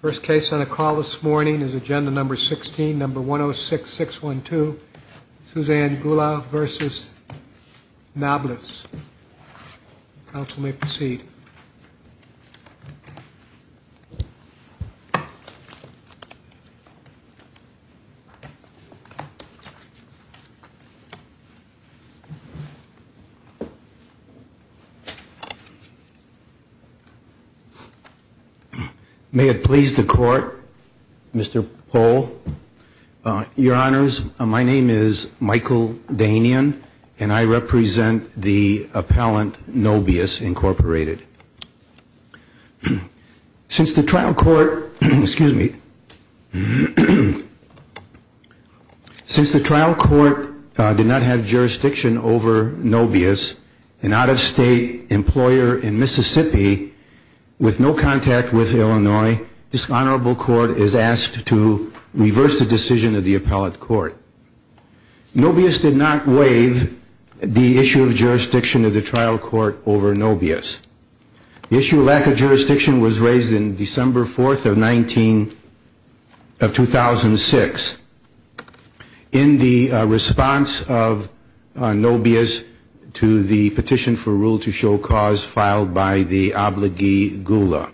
First case on a call this morning is agenda number 16, number 106612 Suzanne Gulla v. Knobias. Council may proceed. May it please the Court, Mr. Pohl. Your Honors, my name is Michael Dainian and I represent the appellant Knobias, Incorporated. Since the trial court, excuse me, since the trial court did not have jurisdiction over Knobias, an out-of-state employer in contact with Illinois, this honorable court is asked to reverse the decision of the appellate court. Knobias did not waive the issue of jurisdiction of the trial court over Knobias. The issue of lack of jurisdiction was raised on December 4th of 2006. In the response of Knobias to the petition for rule to show cause filed by the obligee Gulla,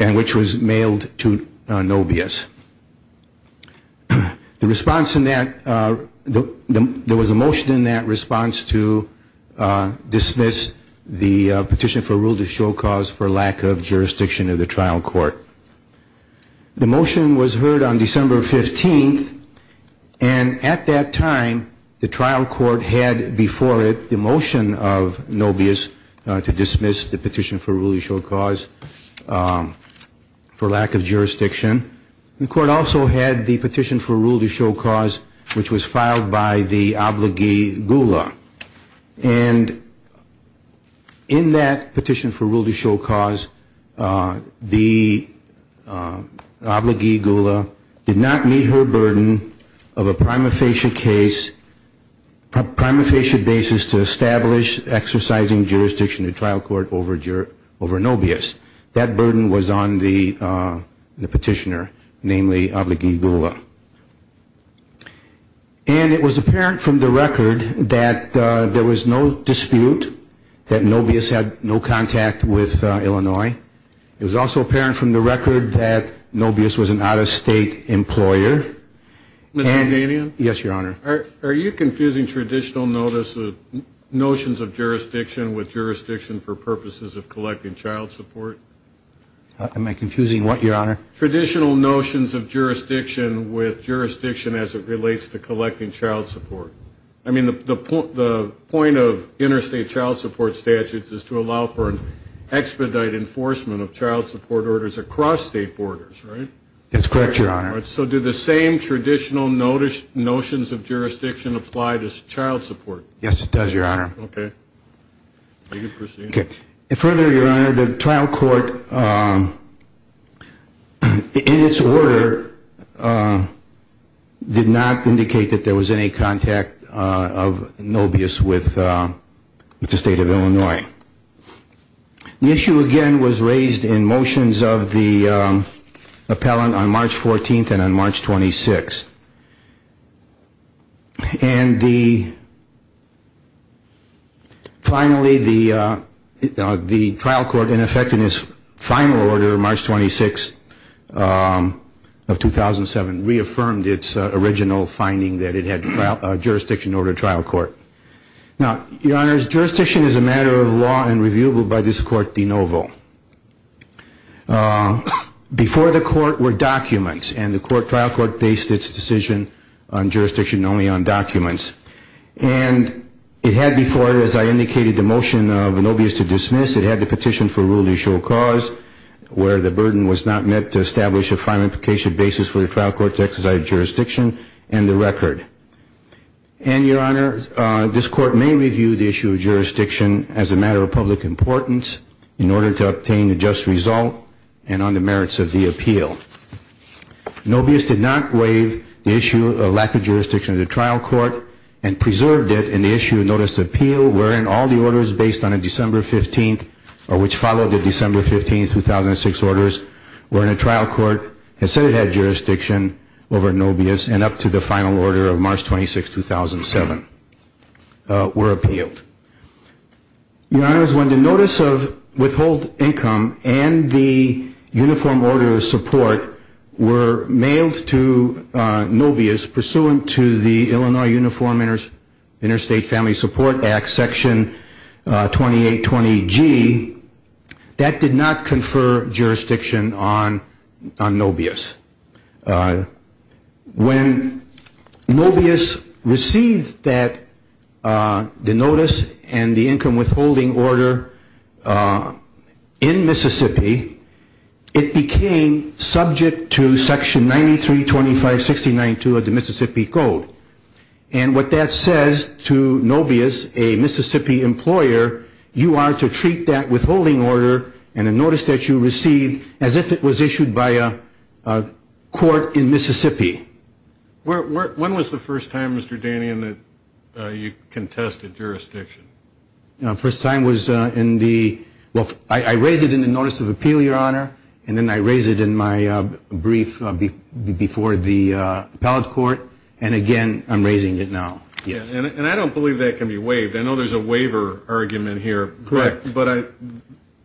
and which was mailed to Knobias. The response in that, there was a motion in that response to dismiss the petition for rule to show cause for lack of jurisdiction of the trial court. The motion was heard on December 15th and at that time the trial court had before it the motion of Knobias to dismiss the petition for rule to show cause for lack of jurisdiction. The court also had the petition for rule to show cause which was filed by the obligee Gulla. And in that petition for rule to show cause, the obligee Gulla did not meet her burden of a prima facie case, a prima facie basis to establish exercising jurisdiction of the trial court over Knobias. That burden was on the petitioner, namely obligee Gulla. And it was apparent from the record that there was no dispute that Knobias had no contact with Illinois. It was also apparent from the record that Knobias was an out of state employer. Mr. Danian? Yes, your honor. Are you confusing traditional notions of jurisdiction with jurisdiction for purposes of collecting child support? Am I confusing what, your honor? Traditional notions of jurisdiction with jurisdiction as it relates to collecting child support. I mean, the point of interstate child support statutes is to allow for an expedite enforcement of child support orders across state borders, right? That's correct, your honor. So do the same traditional notions of jurisdiction apply to child support? Yes, it does, your honor. Okay. You can proceed. Further, your honor, the trial court in its order did not indicate that there was any contact of Knobias with the state of Illinois. The issue, again, was raised in motions of the appellant on March 14th and on March 26th. And finally, the trial court, in effect, in its final order, March 26th of 2007, reaffirmed its original finding that it had jurisdiction over a trial court. Now, your honors, jurisdiction is a matter of law and reviewable by this court de novo. Before the court were documents, and the trial court based its decision on jurisdiction only on documents. And it had before it, as I indicated, the motion of Knobias to dismiss. It had the petition for a rule to show cause where the burden was not met to establish a final implication basis for the trial court to exercise jurisdiction and the record. And, your honor, this court may review the issue of jurisdiction as a matter of public importance in order to obtain a just result and on the merits of the appeal. Knobias did not waive the issue of lack of jurisdiction of the trial court and preserved it in the issue of notice of appeal, wherein all the orders based on a December 15th, or which followed the December 15th, 2006 orders, were in a trial court and said it had jurisdiction over Knobias and up to the final order of March 26th, 2007, were appealed. Your honors, when the notice of withhold income and the uniform order of support were mailed to Knobias, pursuant to the Illinois Uniform Interstate Family Support Act, Section 2820G, that did not confer jurisdiction on Knobias. When Knobias received the notice and the income withholding order in Mississippi, it became subject to Section 9325.69.2 of the Mississippi Code. And what that says to Knobias, a Mississippi employer, you are to treat that withholding order and the notice that you received as if it was issued by a court in Mississippi. When was the first time, Mr. Danian, that you contested jurisdiction? First time was in the, well, I raised it in the notice of appeal, your honor, and then I raised it in my brief before the appellate court, and again, I'm raising it now. And I don't believe that can be waived. I know there's a waiver argument here. Correct. But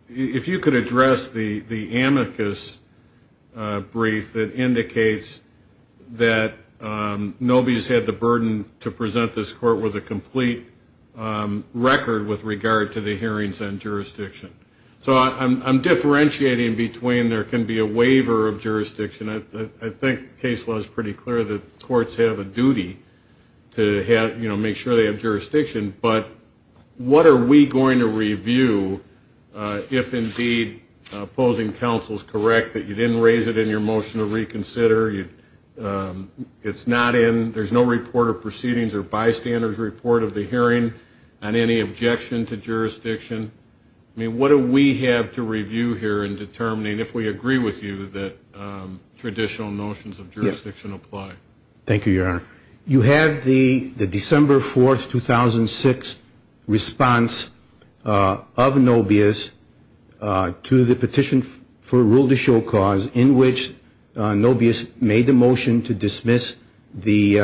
if you could address the amicus brief that indicates that Knobias had the burden to present this court with a complete record with regard to the hearings on jurisdiction. So I'm differentiating between there can be a waiver of jurisdiction. I think case law is pretty clear that courts have a duty to make sure they have jurisdiction, but what are we going to review if indeed opposing counsel is correct, that you didn't raise it in your motion to reconsider, it's not in, there's no report of proceedings or bystanders report of the hearing on any objection to jurisdiction. What do we have to review here in determining if we agree with you that traditional notions of jurisdiction apply? Thank you, your honor. You have the December 4th, 2006 response of Knobias to the petition for rule to show cause in which Knobias made the motion to dismiss the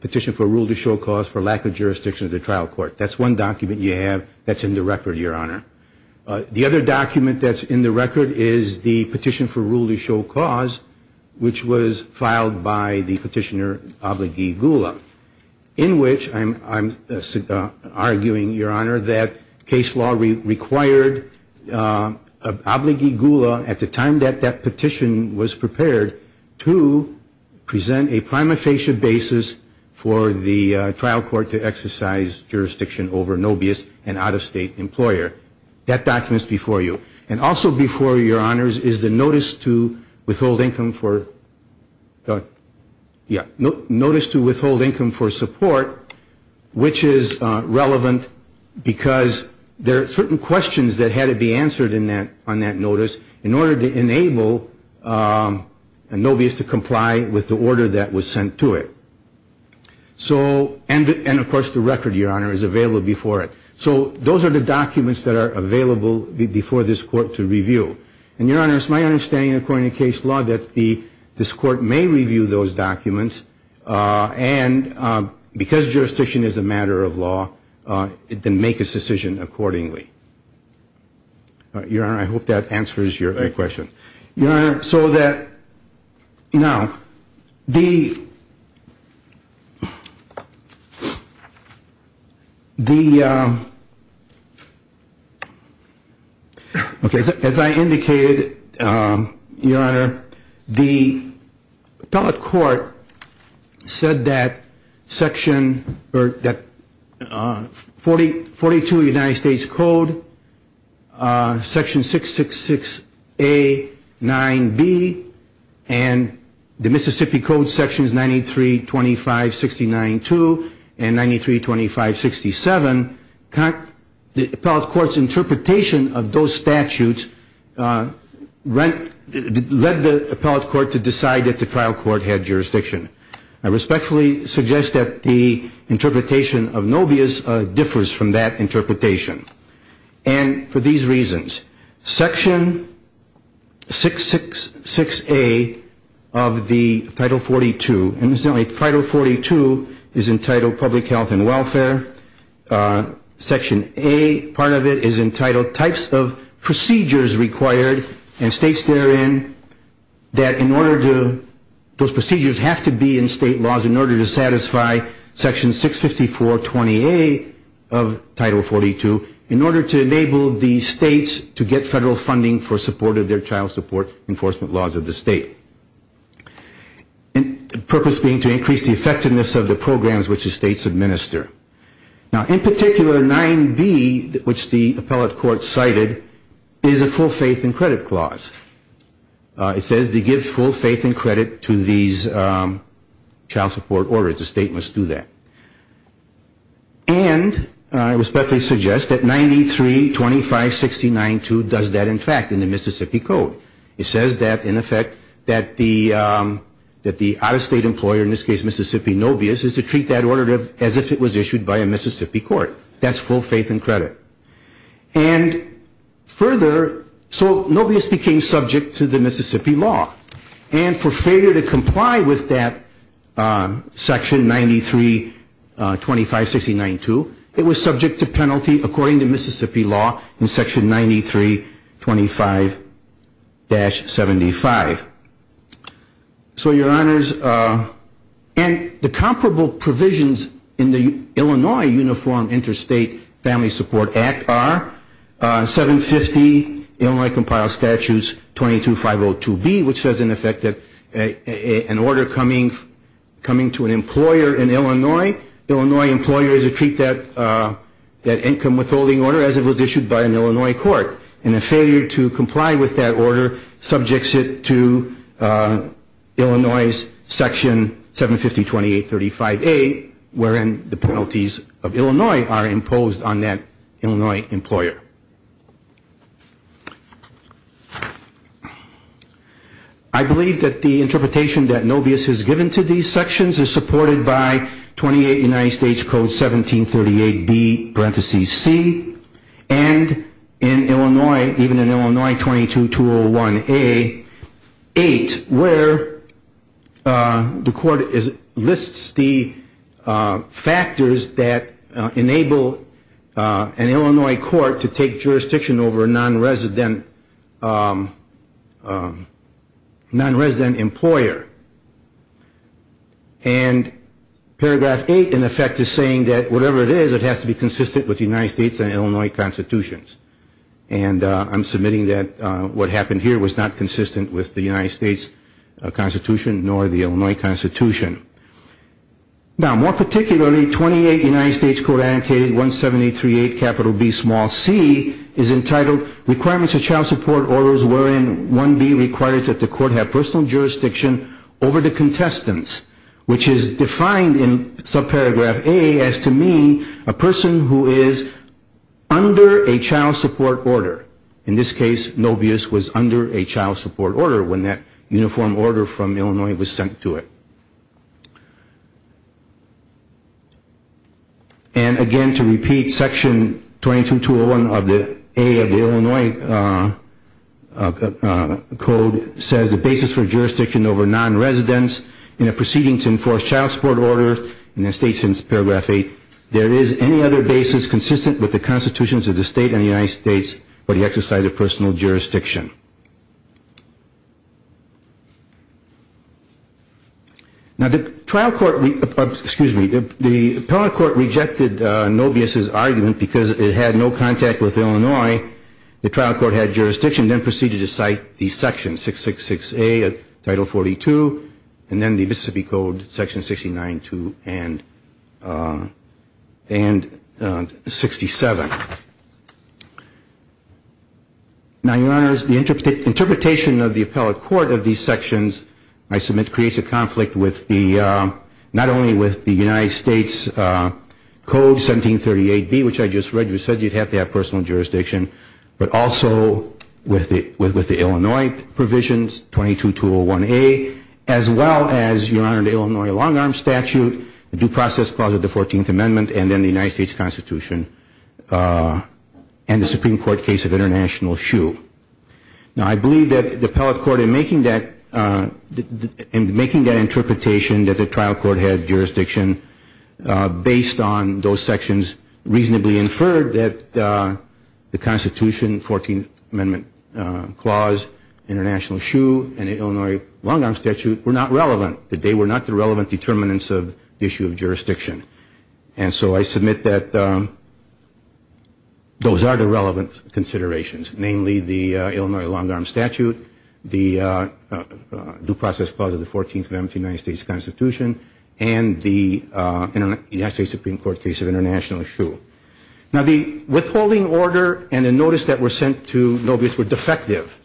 petition for rule to show cause for lack of jurisdiction to the trial court. That's one document you have that's in the record, your honor. The other document that's in the record is the petition for rule to show cause which was filed by the petitioner Obligee Gula in which I'm arguing, your honor, that case law required Obligee Gula at the time that that petition was prepared to present a prima facie basis for the trial court to exercise jurisdiction. That document is before you. And also before you, your honors, is the notice to withhold income for, yeah, notice to withhold income for support which is relevant because there are certain questions that had to be answered on that notice in order to enable Knobias to comply with the order that was sent to it. And, of course, the record, your honor, is available before it. So those are the documents that are available before this court to review. And, your honor, it's my understanding, according to case law, that this court may review those documents and because jurisdiction is a matter of law, it can make a decision accordingly. Your honor, I hope that answers your question. Your honor, so that, now, the, the, okay, as I indicated, your honor, the appellate court said that section, or that 42 of the United States Code, section 666A, 9B, and the Mississippi Code sections 93, 25, 69, 2, and 93, 25, 67, the appellate court's interpretation of those statutes led the appellate court to decide that the trial court had jurisdiction. I respectfully suggest that the interpretation of Knobias differs from that interpretation. And for these reasons, section 666A of the Title 42, and, incidentally, Title 42 is entitled Public Health and Welfare. Section A, part of it, is entitled Types of Procedures Required and states therein that in order to, those procedures have to be in state laws in order to satisfy section 65420A of Title 42. In order to enable the states to get federal funding for support of their child support enforcement laws of the state. Purpose being to increase the effectiveness of the programs which the states administer. Now, in particular, 9B, which the appellate court cited, is a full faith and credit clause. It says to give full faith and credit to these child support orders. The state must do that. And I respectfully suggest that 93, 25, 69, 2 does that, in fact, in the Mississippi Code. It says that, in effect, that the out-of-state employer, in this case Mississippi, Knobias, is to treat that order as if it was issued by a Mississippi court. That's full faith and credit. And further, so Knobias became subject to the Mississippi law. And for failure to comply with that section 93, 25, 69, 2, it was subject to penalty according to Mississippi law in section 93, 25-75. So, your honors, and the comparable provisions in the Illinois Uniform Interstate Family Support Act. Act R, 750 Illinois Compiled Statutes 22-502B, which says, in effect, that an order coming to an employer in Illinois, Illinois employer is to treat that income withholding order as if it was issued by an Illinois court. And a failure to comply with that order subjects it to Illinois section 750-2835A, wherein the penalties of Illinois are imposed on that Illinois employer. I believe that the interpretation that Knobias has given to these sections is supported by 28 United States Code 1738B, parenthesis C, and in Illinois, even in Illinois 22-201A, 8, where the court lists the factors that enable an Illinois employer to be subject to penalty. And in fact, the Illinois court to take jurisdiction over a non-resident employer. And paragraph 8, in effect, is saying that whatever it is, it has to be consistent with the United States and Illinois constitutions. And I'm submitting that what happened here was not consistent with the United States constitution nor the Illinois constitution. Now, more particularly, 28 United States Code Annotated 1738B, small c, is entitled Requirements of Child Support Orders, wherein 1B requires that the court have personal jurisdiction over the contestants, which is defined in subparagraph A as to mean a person who is under a child support order. In this case, Knobias was under a child support order when that uniform order from Illinois was sent to it. And again, to repeat, section 22-201A of the Illinois code says the basis for jurisdiction over non-residents in a proceeding to enforce child support orders in a state since paragraph 8, there is any other basis consistent with the constitutions of the state and the United States for the exercise of personal jurisdiction. Now, the trial court, excuse me, the appellate court rejected Knobias' argument because it had no contact with Illinois. The trial court had jurisdiction and then proceeded to cite the section 666A of Title 42 and then the Mississippi Code section 69-2 and 67. Now, Your Honors, the interpretation of the appellate court of these sections I submit creates a conflict with the, not only with the United States Code 1738B, which I just read, which said you'd have to have personal jurisdiction, but also with the Illinois provisions, 22-201A, as well as, Your Honor, the Illinois long-arm statute, the due process clause of the 14th Amendment, and then the United States Constitution. Now, I believe that the appellate court, in making that, in making that interpretation that the trial court had jurisdiction based on those sections, reasonably inferred that the Constitution, 14th Amendment clause, international shoe, and the Illinois long-arm statute were not relevant, that they were not the relevant determinants of the issue of jurisdiction. And so I submit that those are the relevant considerations, namely the Illinois long-arm statute, the due process clause of the 14th Amendment to the United States Constitution, and the United States Supreme Court case of international shoe. Now, the withholding order and the notice that were sent to Nobius were defective.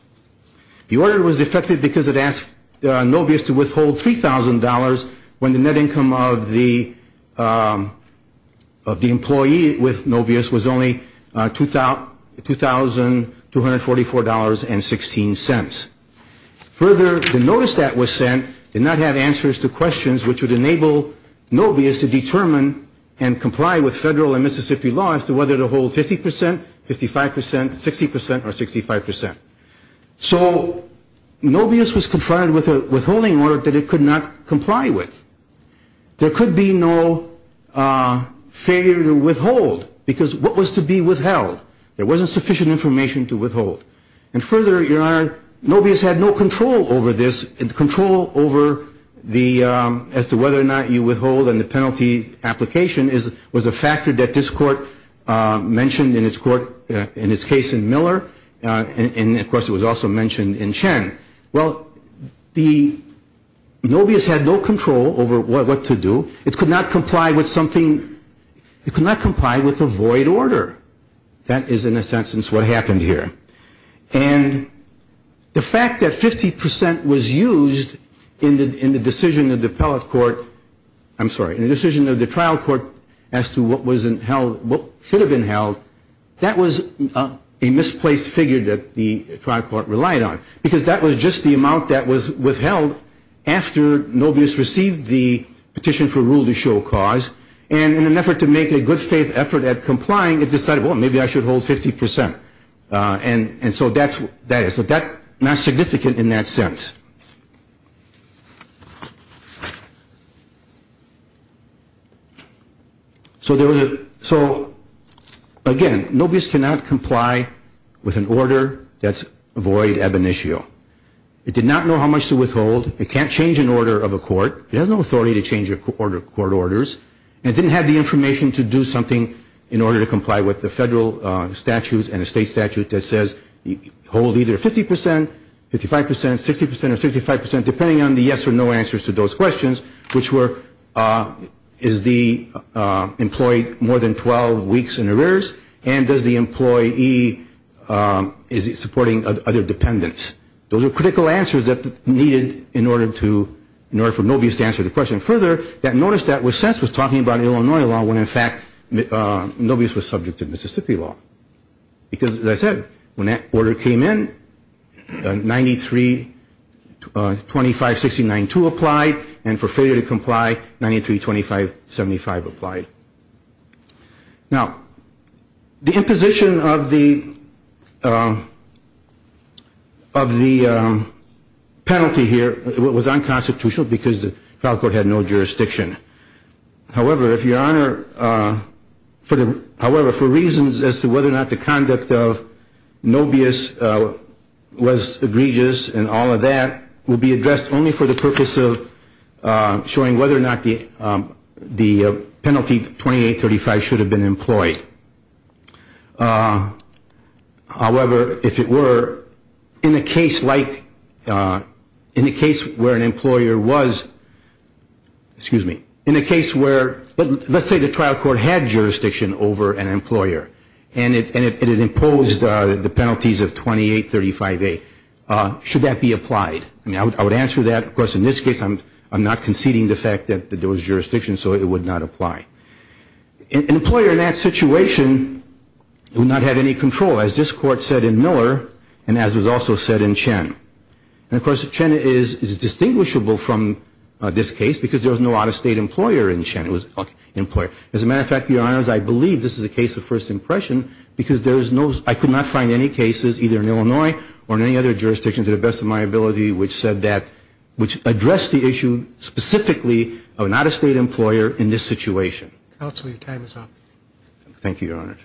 The order was defective because it asked Nobius to withhold $3,000 when the net income of the employee with Nobius was only $2,244.16. Further, the notice that was sent did not have answers to questions which would enable Nobius to determine and comply with federal and Mississippi law as to whether to hold 50%, 55%, 60%, or 65%. So Nobius was confronted with a withholding order that it could not comply with. There could be no failure to withhold, because what was to be withheld? There wasn't sufficient information to withhold. And further, Your Honor, Nobius had no control over this, control over the, as to whether or not you withhold, and the penalty application was a factor that this court mentioned in its court, in its case in Miller. And, of course, it was also mentioned in Chen. Well, the, Nobius had no control over what to do. It could not comply with something, it could not comply with a void order. That is, in a sense, what happened here. And the fact that 50% was used in the decision of the appellate court, I'm sorry, in the decision of the trial court as to what was in held, what should have been held, that was a misplaced order. That was a misplaced figure that the trial court relied on, because that was just the amount that was withheld after Nobius received the petition for rule to show cause. And in an effort to make a good faith effort at complying, it decided, well, maybe I should hold 50%. And so that's what that is. But that's not significant in that sense. So there was a, so, again, Nobius cannot comply with an order that's void ab initio. It did not know how much to withhold. It can't change an order of a court. It has no authority to change a court order. And it didn't have the information to do something in order to comply with the federal statutes and the state statute that says hold either 50%, 55%, 60%, or 65%, depending on the yes or no answers to those questions, which were, is the employee more than 12 weeks in arrears, and does the employee, is he supporting other dependents? Those are critical answers that were needed in order for Nobius to answer the question. And then further, that notice that was sent was talking about Illinois law when, in fact, Nobius was subject to Mississippi law. Because, as I said, when that order came in, 93-25-69-2 applied, and for failure to comply, 93-25-75 applied. Now, the imposition of the penalty here was unconstitutional because the federal court had no authority to do that. It was unconstitutional in the federal jurisdiction. However, if Your Honor, however, for reasons as to whether or not the conduct of Nobius was egregious and all of that will be addressed only for the purpose of showing whether or not the penalty 28-35 should have been employed. However, if it were, in a case like, in a case where an employer was, excuse me, in a case where, let's say the trial court had jurisdiction over an employer, and it imposed the penalties of 28-35A, should that be applied? I mean, I would answer that, because in this case I'm not conceding the fact that there was jurisdiction, so it would not apply. An employer in that situation would not have any control, as this court said in Miller and as was also said in Chen. And, of course, Chen is distinguishable from this case because there was no out-of-state employer in Chen. It was an employer. As a matter of fact, Your Honors, I believe this is a case of first impression because there is no, I could not find any cases either in Illinois or in any other jurisdiction to the best of my ability which said that, which addressed the issue specifically of an out-of-state employer in this situation. Counsel, your time is up. Thank you, Your Honors.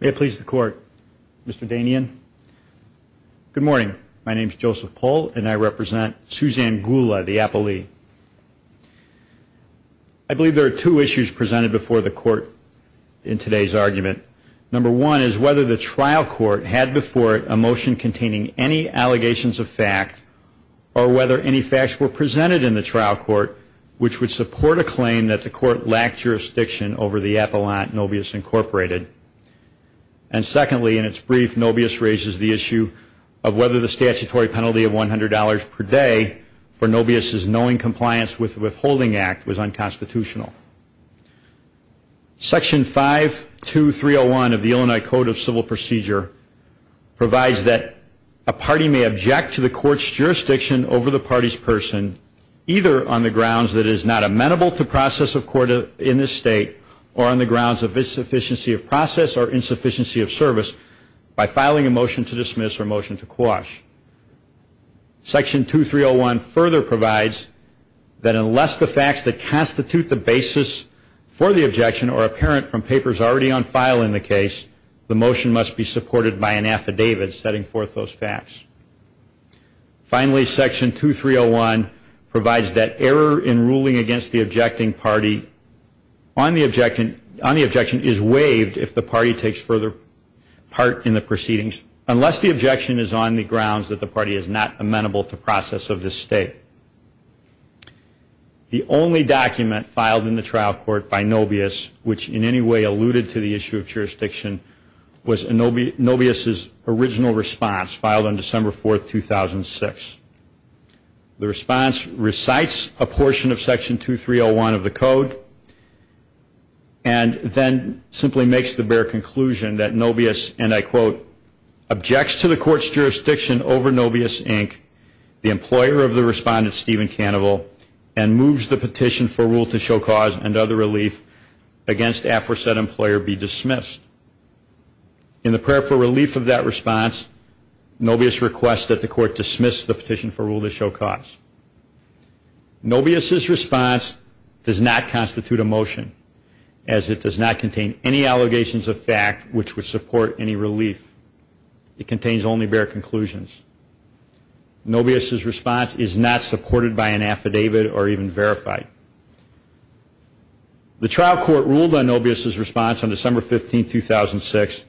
May it please the Court, Mr. Danian. Good morning. My name is Joseph Pohl, and I represent Suzanne Gula, the appellee. I believe there are two issues presented before the Court in today's argument. Number one is whether the trial court had before it a motion containing any allegations of fact or whether any facts were presented in the trial court which would support a claim that the court lacked jurisdiction over the Appellant Nobius Incorporated. And secondly, in its brief, Nobius raises the issue of whether the statutory penalty of $100 per day for Nobius's Knowing Compliance with Withholding Act was unconstitutional. Section 52301 of the Illinois Code of Civil Procedure provides that a party may object to the court's jurisdiction over the party's person either on the grounds that it is not amenable to process of court in this state or on the grounds of insufficiency of property rights. Section 52301 of the Illinois Code of Civil Procedure provides that a party may object to the court's jurisdiction over the party's person either on the grounds that it is not amenable to process or insufficiency of service by filing a motion to dismiss or motion to quash. Section 2301 further provides that unless the facts that constitute the basis for the objection are apparent from papers already on file in the case, the motion must be supported by an affidavit setting forth those facts. Finally, Section 2301 provides that error in ruling against the objecting party on the objection is waived if the objection is denied. Section 2301 of the Illinois Code of Civil Procedure provides that the party takes further part in the proceedings unless the objection is on the grounds that the party is not amenable to process of this state. The only document filed in the trial court by Nobius which in any way alluded to the issue of jurisdiction was Nobius's original response filed on December 4, 2006. The response recites a portion of Section 2301 of the code and then simply makes the basis for the objection. Section 2301 of the Illinois Code of Civil Procedure provides that if the party is not amenable to process or motion to quash a motion to dismiss or motion to quash a petition for rule to show cause, the party is not amenable to process or motion to quash a petition for rule to show cause. Nobius's response is not supported by an affidavit or even verified. The trial court ruled on Nobius's response on December 15, 2006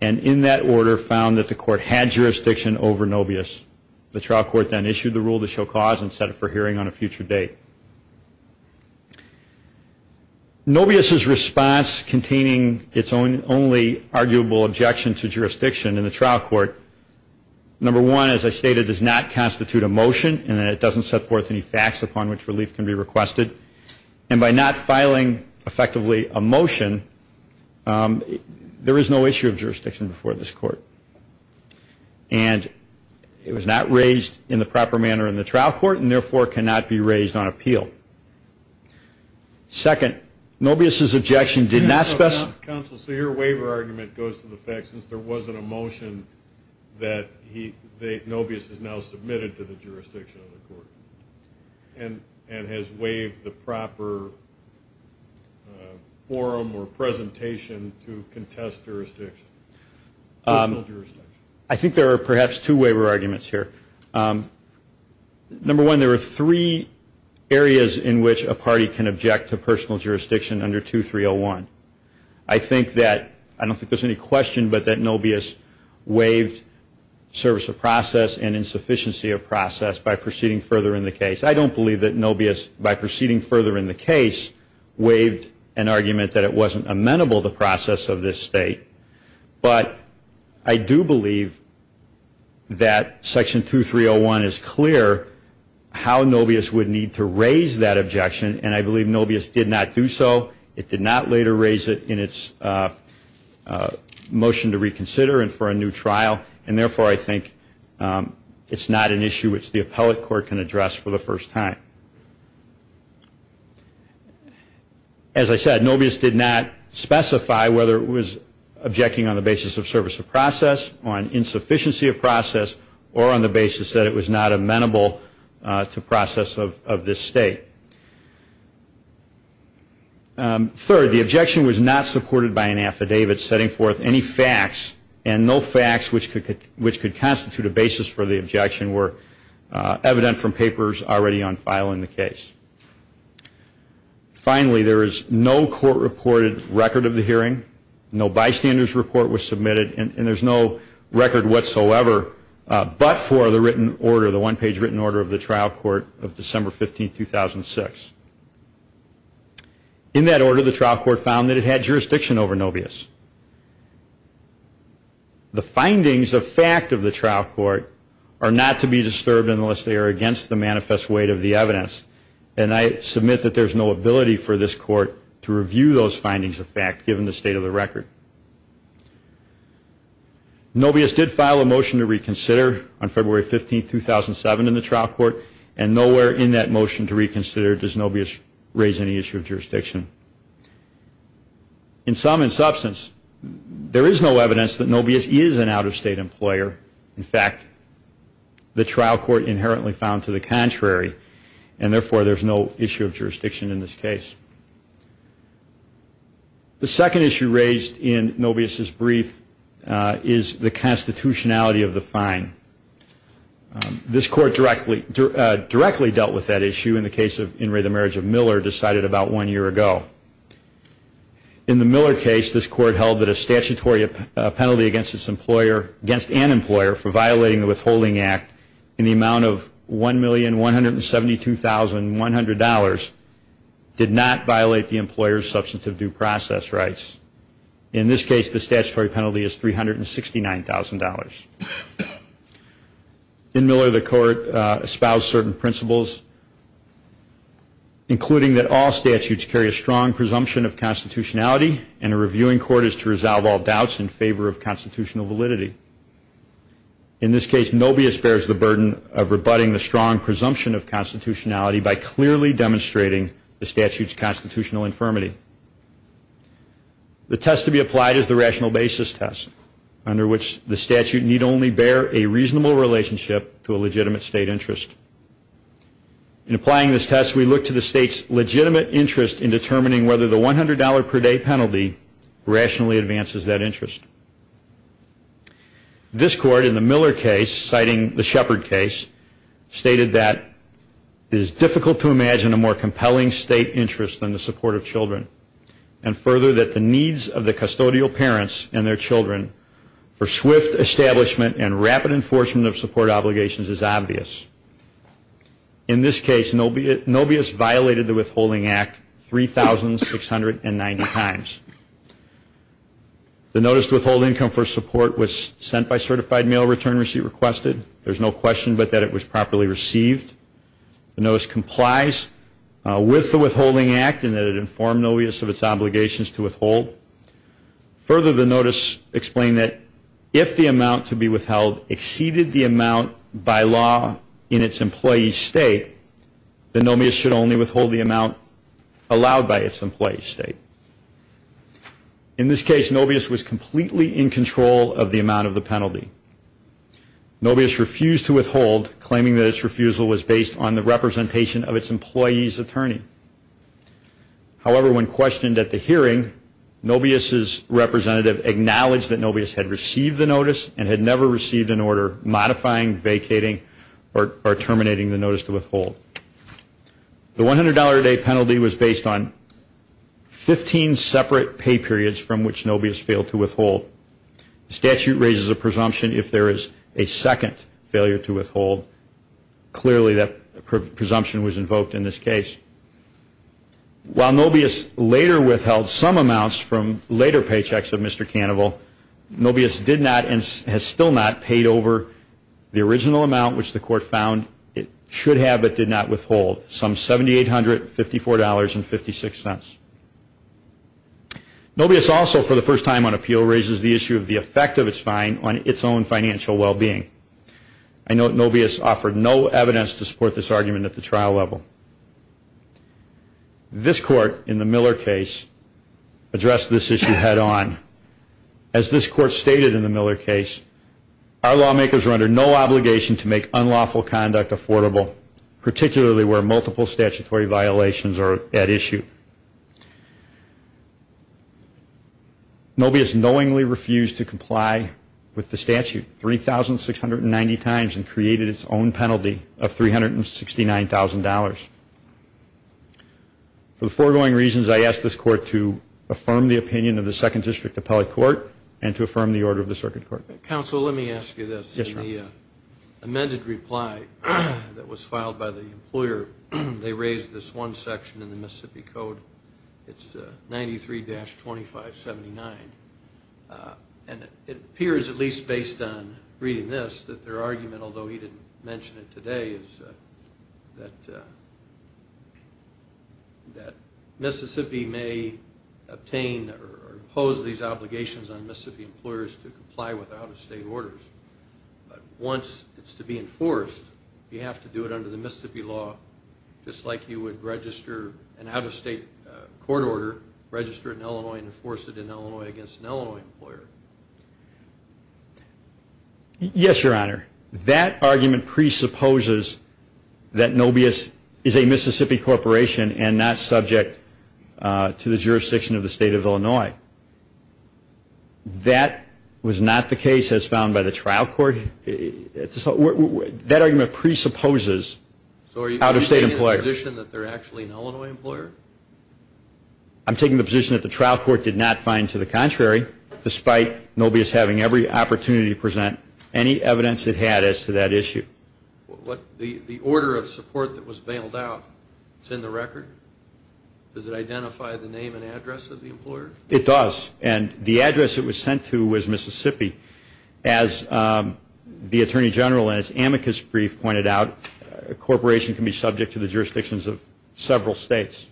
and in that order found that the court had jurisdiction over Nobius. The trial court then issued the rule to show cause and set it for hearing on a future date. Nobius's response containing its only arguable objection to jurisdiction in the trial court, number one, as I stated, does not constitute a motion and it doesn't set forth any facts upon which relief can be requested. And by not filing effectively a motion, there is no issue of jurisdiction before this court. And it was not raised in the proper manner in the trial court and therefore cannot be raised on appeal. Second, Nobius's objection did not specify... Counsel, so your waiver argument goes to the fact that since there wasn't a motion that Nobius has now submitted to the jurisdiction of the court and has waived the proper forum or presentation to contest jurisdiction. I think there are perhaps two waiver arguments here. Number one, there are three areas in which a party can object to personal jurisdiction under 2301. I think that, I don't think there's any question, but that Nobius waived service of process and insufficiency of process by proceeding further in the case. I don't believe that Nobius, by proceeding further in the case, waived an argument that it wasn't amenable, the process of this state. But I do believe that Section 2301 is clear how Nobius would need to raise that objection and I believe Nobius did not do so. It did not later raise it in its motion to reconsider and for a new trial. And therefore, I think it's not an issue which the appellate court can address for the first time. As I said, Nobius did not specify whether it was objecting on the basis of service of process, on insufficiency of process, or on the basis that it was not amenable to process of this state. Third, the objection was not supported by an affidavit setting forth any facts and no facts which could constitute a basis for the objection were evident from papers already on file in the case. Finally, there is no court-reported record of the hearing, no bystander's report was submitted, and there's no record whatsoever but for the written order, the one-page written order of the trial court of December 15, 2006. In that order, the trial court found that it had jurisdiction over Nobius. The findings of fact of the trial court are not to be disturbed unless they are against the manifest weight of the evidence. And I submit that there's no ability for this court to review those findings of fact given the state of the record. Nobius did file a motion to reconsider on February 15, 2007 in the trial court and nowhere in that motion to reconsider does Nobius raise any issue of jurisdiction. In sum and substance, there is no evidence that Nobius is an out-of-state employer. In fact, the trial court inherently found to the contrary, and therefore there's no issue of jurisdiction in this case. The second issue raised in Nobius' brief is the constitutionality of the fine. This court directly dealt with that issue in the case of In re the Marriage of Miller decided about one year ago. In the Miller case, this court held that a statutory penalty against an employer for violating the Withholding Act in the amount of $1,172,100 did not violate the employer's substantive due process rights. In this case, the statutory penalty is $369,000. In Miller, the court espoused certain principles, including that all statutes carry a strong presumption of constitutionality and a reviewing court is to resolve all doubts in favor of constitutional validity. In this case, Nobius bears the burden of rebutting the strong presumption of constitutionality by clearly demonstrating the statute's The test to be applied is the rational basis test, under which the statute need only bear a reasonable relationship to a legitimate state interest. In applying this test, we look to the state's legitimate interest in determining whether the $100 per day penalty rationally advances that interest. This court in the Miller case, citing the Shepard case, stated that it is difficult to imagine a more compelling state interest than the needs of the custodial parents and their children for swift establishment and rapid enforcement of support obligations is obvious. In this case, Nobius violated the Withholding Act 3,690 times. The notice to withhold income for support was sent by certified mail return receipt requested. There is no question but that it was properly received. The notice complies with the Withholding Act and that it informed Nobius of its obligations to withhold. Further, the notice explained that if the amount to be withheld exceeded the amount by law in its employee state, the Nobius should only withhold the amount allowed by its employee state. In this case, Nobius was completely in control of the amount of the penalty. Nobius refused to withhold, claiming that its refusal was based on the representation of its employee's attorney. However, when questioned at the hearing, Nobius's representative acknowledged that Nobius had received the notice and had never received an order modifying, vacating, or terminating the notice to withhold. The $100 a day penalty was based on 15 separate pay periods from which Nobius failed to withhold. The statute raises a presumption if there is a second failure to withhold. Clearly, that presumption was invoked in this case. While Nobius later withheld some amounts from later paychecks of Mr. Cannaval, Nobius did not and has still not paid over the original amount which the court found it should have but did not withhold, some $7,854.56. Nobius also, for the first time on appeal, raises the issue of the effect of its fine on its own financial well-being. I note Nobius offered no evidence to support this argument at the trial level. This court in the Miller case addressed this issue head-on. As this court stated in the Miller case, our lawmakers are under no obligation to make unlawful conduct affordable, particularly where multiple statutory violations are at issue. Nobius knowingly refused to comply with the statute 3,690 times and created its own penalty of $369,000. For the foregoing reasons, I ask this court to affirm the opinion of the Second District Appellate Court and to affirm the order of the Circuit Court. They raised this one section in the Mississippi Code, it's 93-2579. And it appears, at least based on reading this, that their argument, although he didn't mention it today, is that Mississippi may obtain or impose these obligations on Mississippi employers to comply with out-of-state orders. But once it's to be enforced, you have to do it under the Mississippi law, just like you would register an out-of-state court order, register it in Illinois and enforce it in Illinois against an Illinois employer. Yes, Your Honor. That argument presupposes that Nobius is a Mississippi corporation and not subject to the jurisdiction of the State of Illinois. That was not the case as found by the trial court. That argument presupposes out-of-state employers. I'm taking the position that the trial court did not find, to the contrary, despite Nobius having every opportunity to present any evidence it had as to that issue. The order of support that was bailed out, it's in the record? Does it identify the name and address of the employer? It does. And the address it was sent to was Mississippi. As the Attorney General in his amicus brief pointed out, a corporation can be subject to the jurisdictions of several states.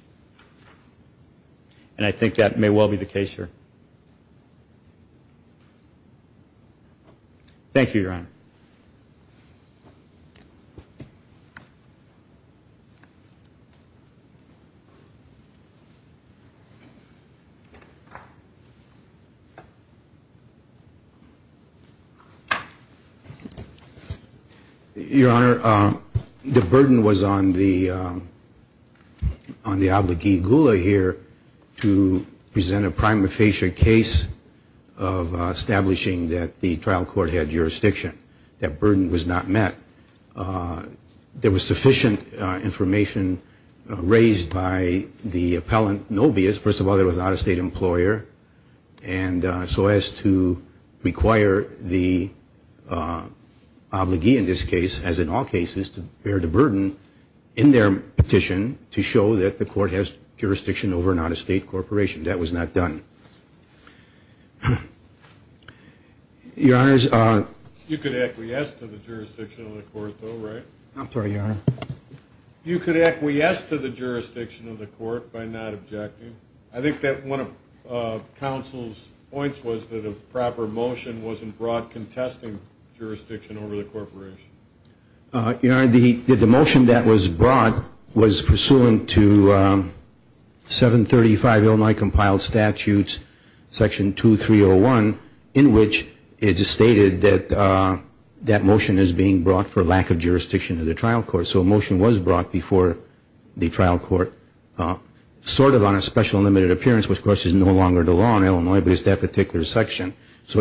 And I think that may well be the case here. Your Honor, the burden was on the obligee Gula here to present a prima facie case of establishing that the trial court had jurisdiction. That burden was not met. There was sufficient information raised by the appellant Nobius. First of all, there was an out-of-state employer. And so as to require the obligee in this case, as in all cases, to bear the burden in their petition to show that the court has jurisdiction over an out-of-state corporation. That was not done. Your Honor. You could acquiesce to the jurisdiction of the court, though, right? I'm sorry, Your Honor. You could acquiesce to the jurisdiction of the court by not objecting. I think that one of counsel's points was that a proper motion wasn't brought contesting jurisdiction over the corporation. And I think that that motion was brought before the trial court. And it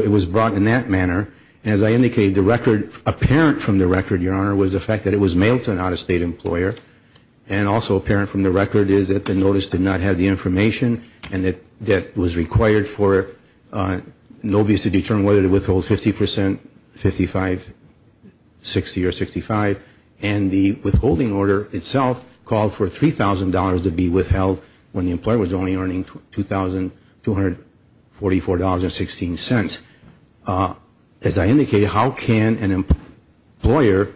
was brought in that manner. And as I indicated, the record, apparent from the record, Your Honor, was the fact that it was mailed to an out-of-state employer. And also apparent from the record is that the notice did not have the information and that that was rejected. It was required for an obvious to determine whether to withhold 50 percent, 55, 60 or 65. And the withholding order itself called for $3,000 to be withheld when the employer was only earning $2,244.16. As I indicated, how can an employer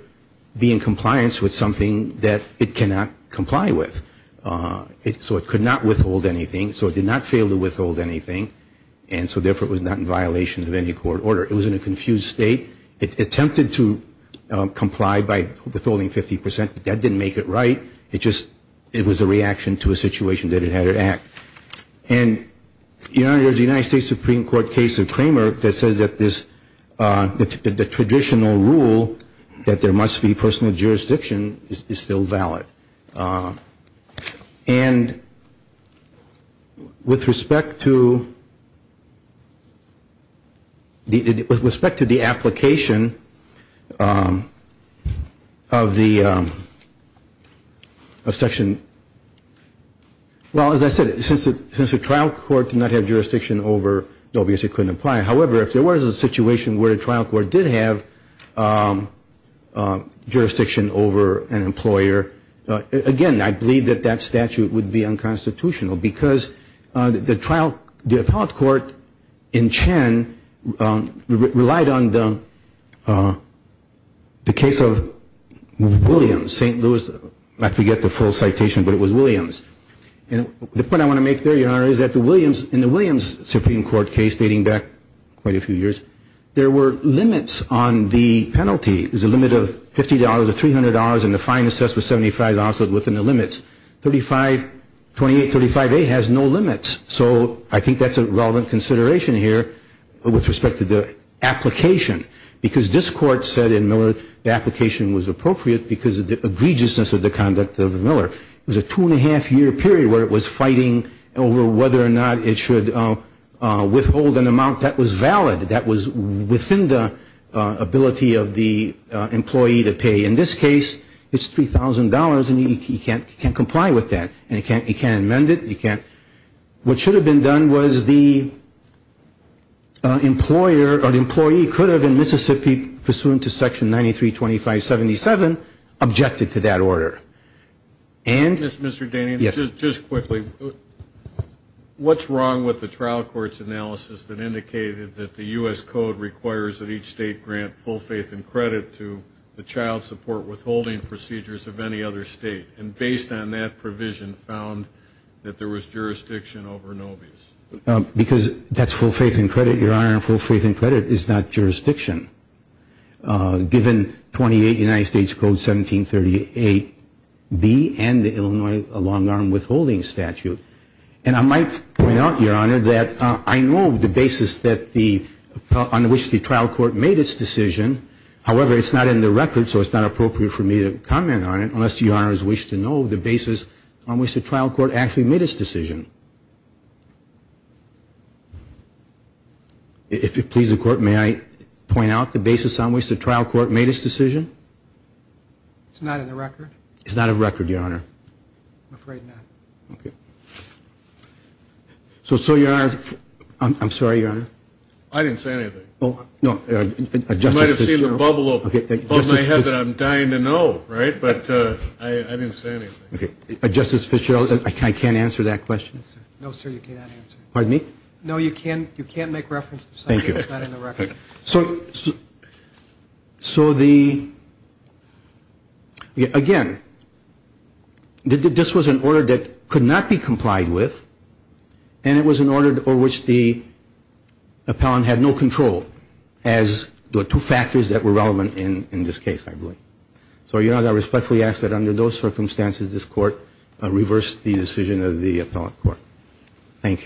be in compliance with something that it cannot comply with? So it could not withhold anything. So it did not fail to withhold anything. And so therefore it was not in violation of any court order. It was in a confused state. It attempted to comply by withholding 50 percent. That didn't make it right. It just was a reaction to a situation that it had to act. And, Your Honor, the United States Supreme Court case of Kramer that says that the traditional rule that there must be personal jurisdiction is still valid. And with respect to the application of the, of the, of the, of the, of the, of the, of the, of the, of the, of the, of the, of the, of the, of section, well, as I said, since the trial court did not have jurisdiction over, obviously it couldn't apply. However, if there was a situation where the trial court did have jurisdiction over an employer, again, I believe that that statute would be unconstitutional because the trial, the appellate court in Chen relied on the, the case of Williams, St. Louis, I forget the full citation, but it was Williams. And the point I want to make there, Your Honor, is that the Williams, in the Williams Supreme Court case dating back quite a few years, there were limits on the penalty. There's a limit of $50 or $300, and the fine assessed was $75, so it was within the limits. Thirty-five, 2835A has no limits. So I think that's a relevant consideration here with respect to the application, because this Court said in Miller the application was appropriate because of the egregiousness of the conduct of Miller. It was a two-and-a-half-year period where it was fighting over whether or not it should withhold an amount that was valid, that was within the ability of the employee to pay. In this case, it's $3,000, and he can't comply with that. And he can't amend it, he can't. What should have been done was the employer or the employee could have, in Mississippi, pursuant to Section 932577, objected to that order. And Mr. Danian, just quickly, what's wrong with the trial court's analysis that indicated that the U.S. Code requires that each state grant full faith and credit to the child support withholding procedures of any other state? And based on that provision, found that there was jurisdiction over Nobis? Because that's full faith and credit, Your Honor, and full faith and credit is not jurisdiction, given 28 United States Code 1738B and the Illinois long-arm withholding statute. And I might point out, Your Honor, that I know the basis on which the trial court made its decision. However, it's not in the record, so it's not appropriate for me to comment on it unless, Your Honor, you wish to know the basis on which the trial court actually made its decision. If it pleases the Court, may I point out the basis on which the trial court made its decision? It's not in the record? It's not a record, Your Honor. I'm afraid not. So, Your Honor, I'm sorry, Your Honor. I didn't say anything. You might have seen the bubble above my head that I'm dying to know, right? But I didn't say anything. Justice Fitzgerald, I can't answer that question? No, sir, you cannot answer. Pardon me? No, you can't make reference to the subject. It's not in the record. So, again, this was an order that could not be complied with, and it was an order over which the appellant had no control, as the two factors that were relevant in this case, I believe. So, Your Honor, I respectfully ask that under those circumstances this Court reverse the decision of the appellant court. Thank you.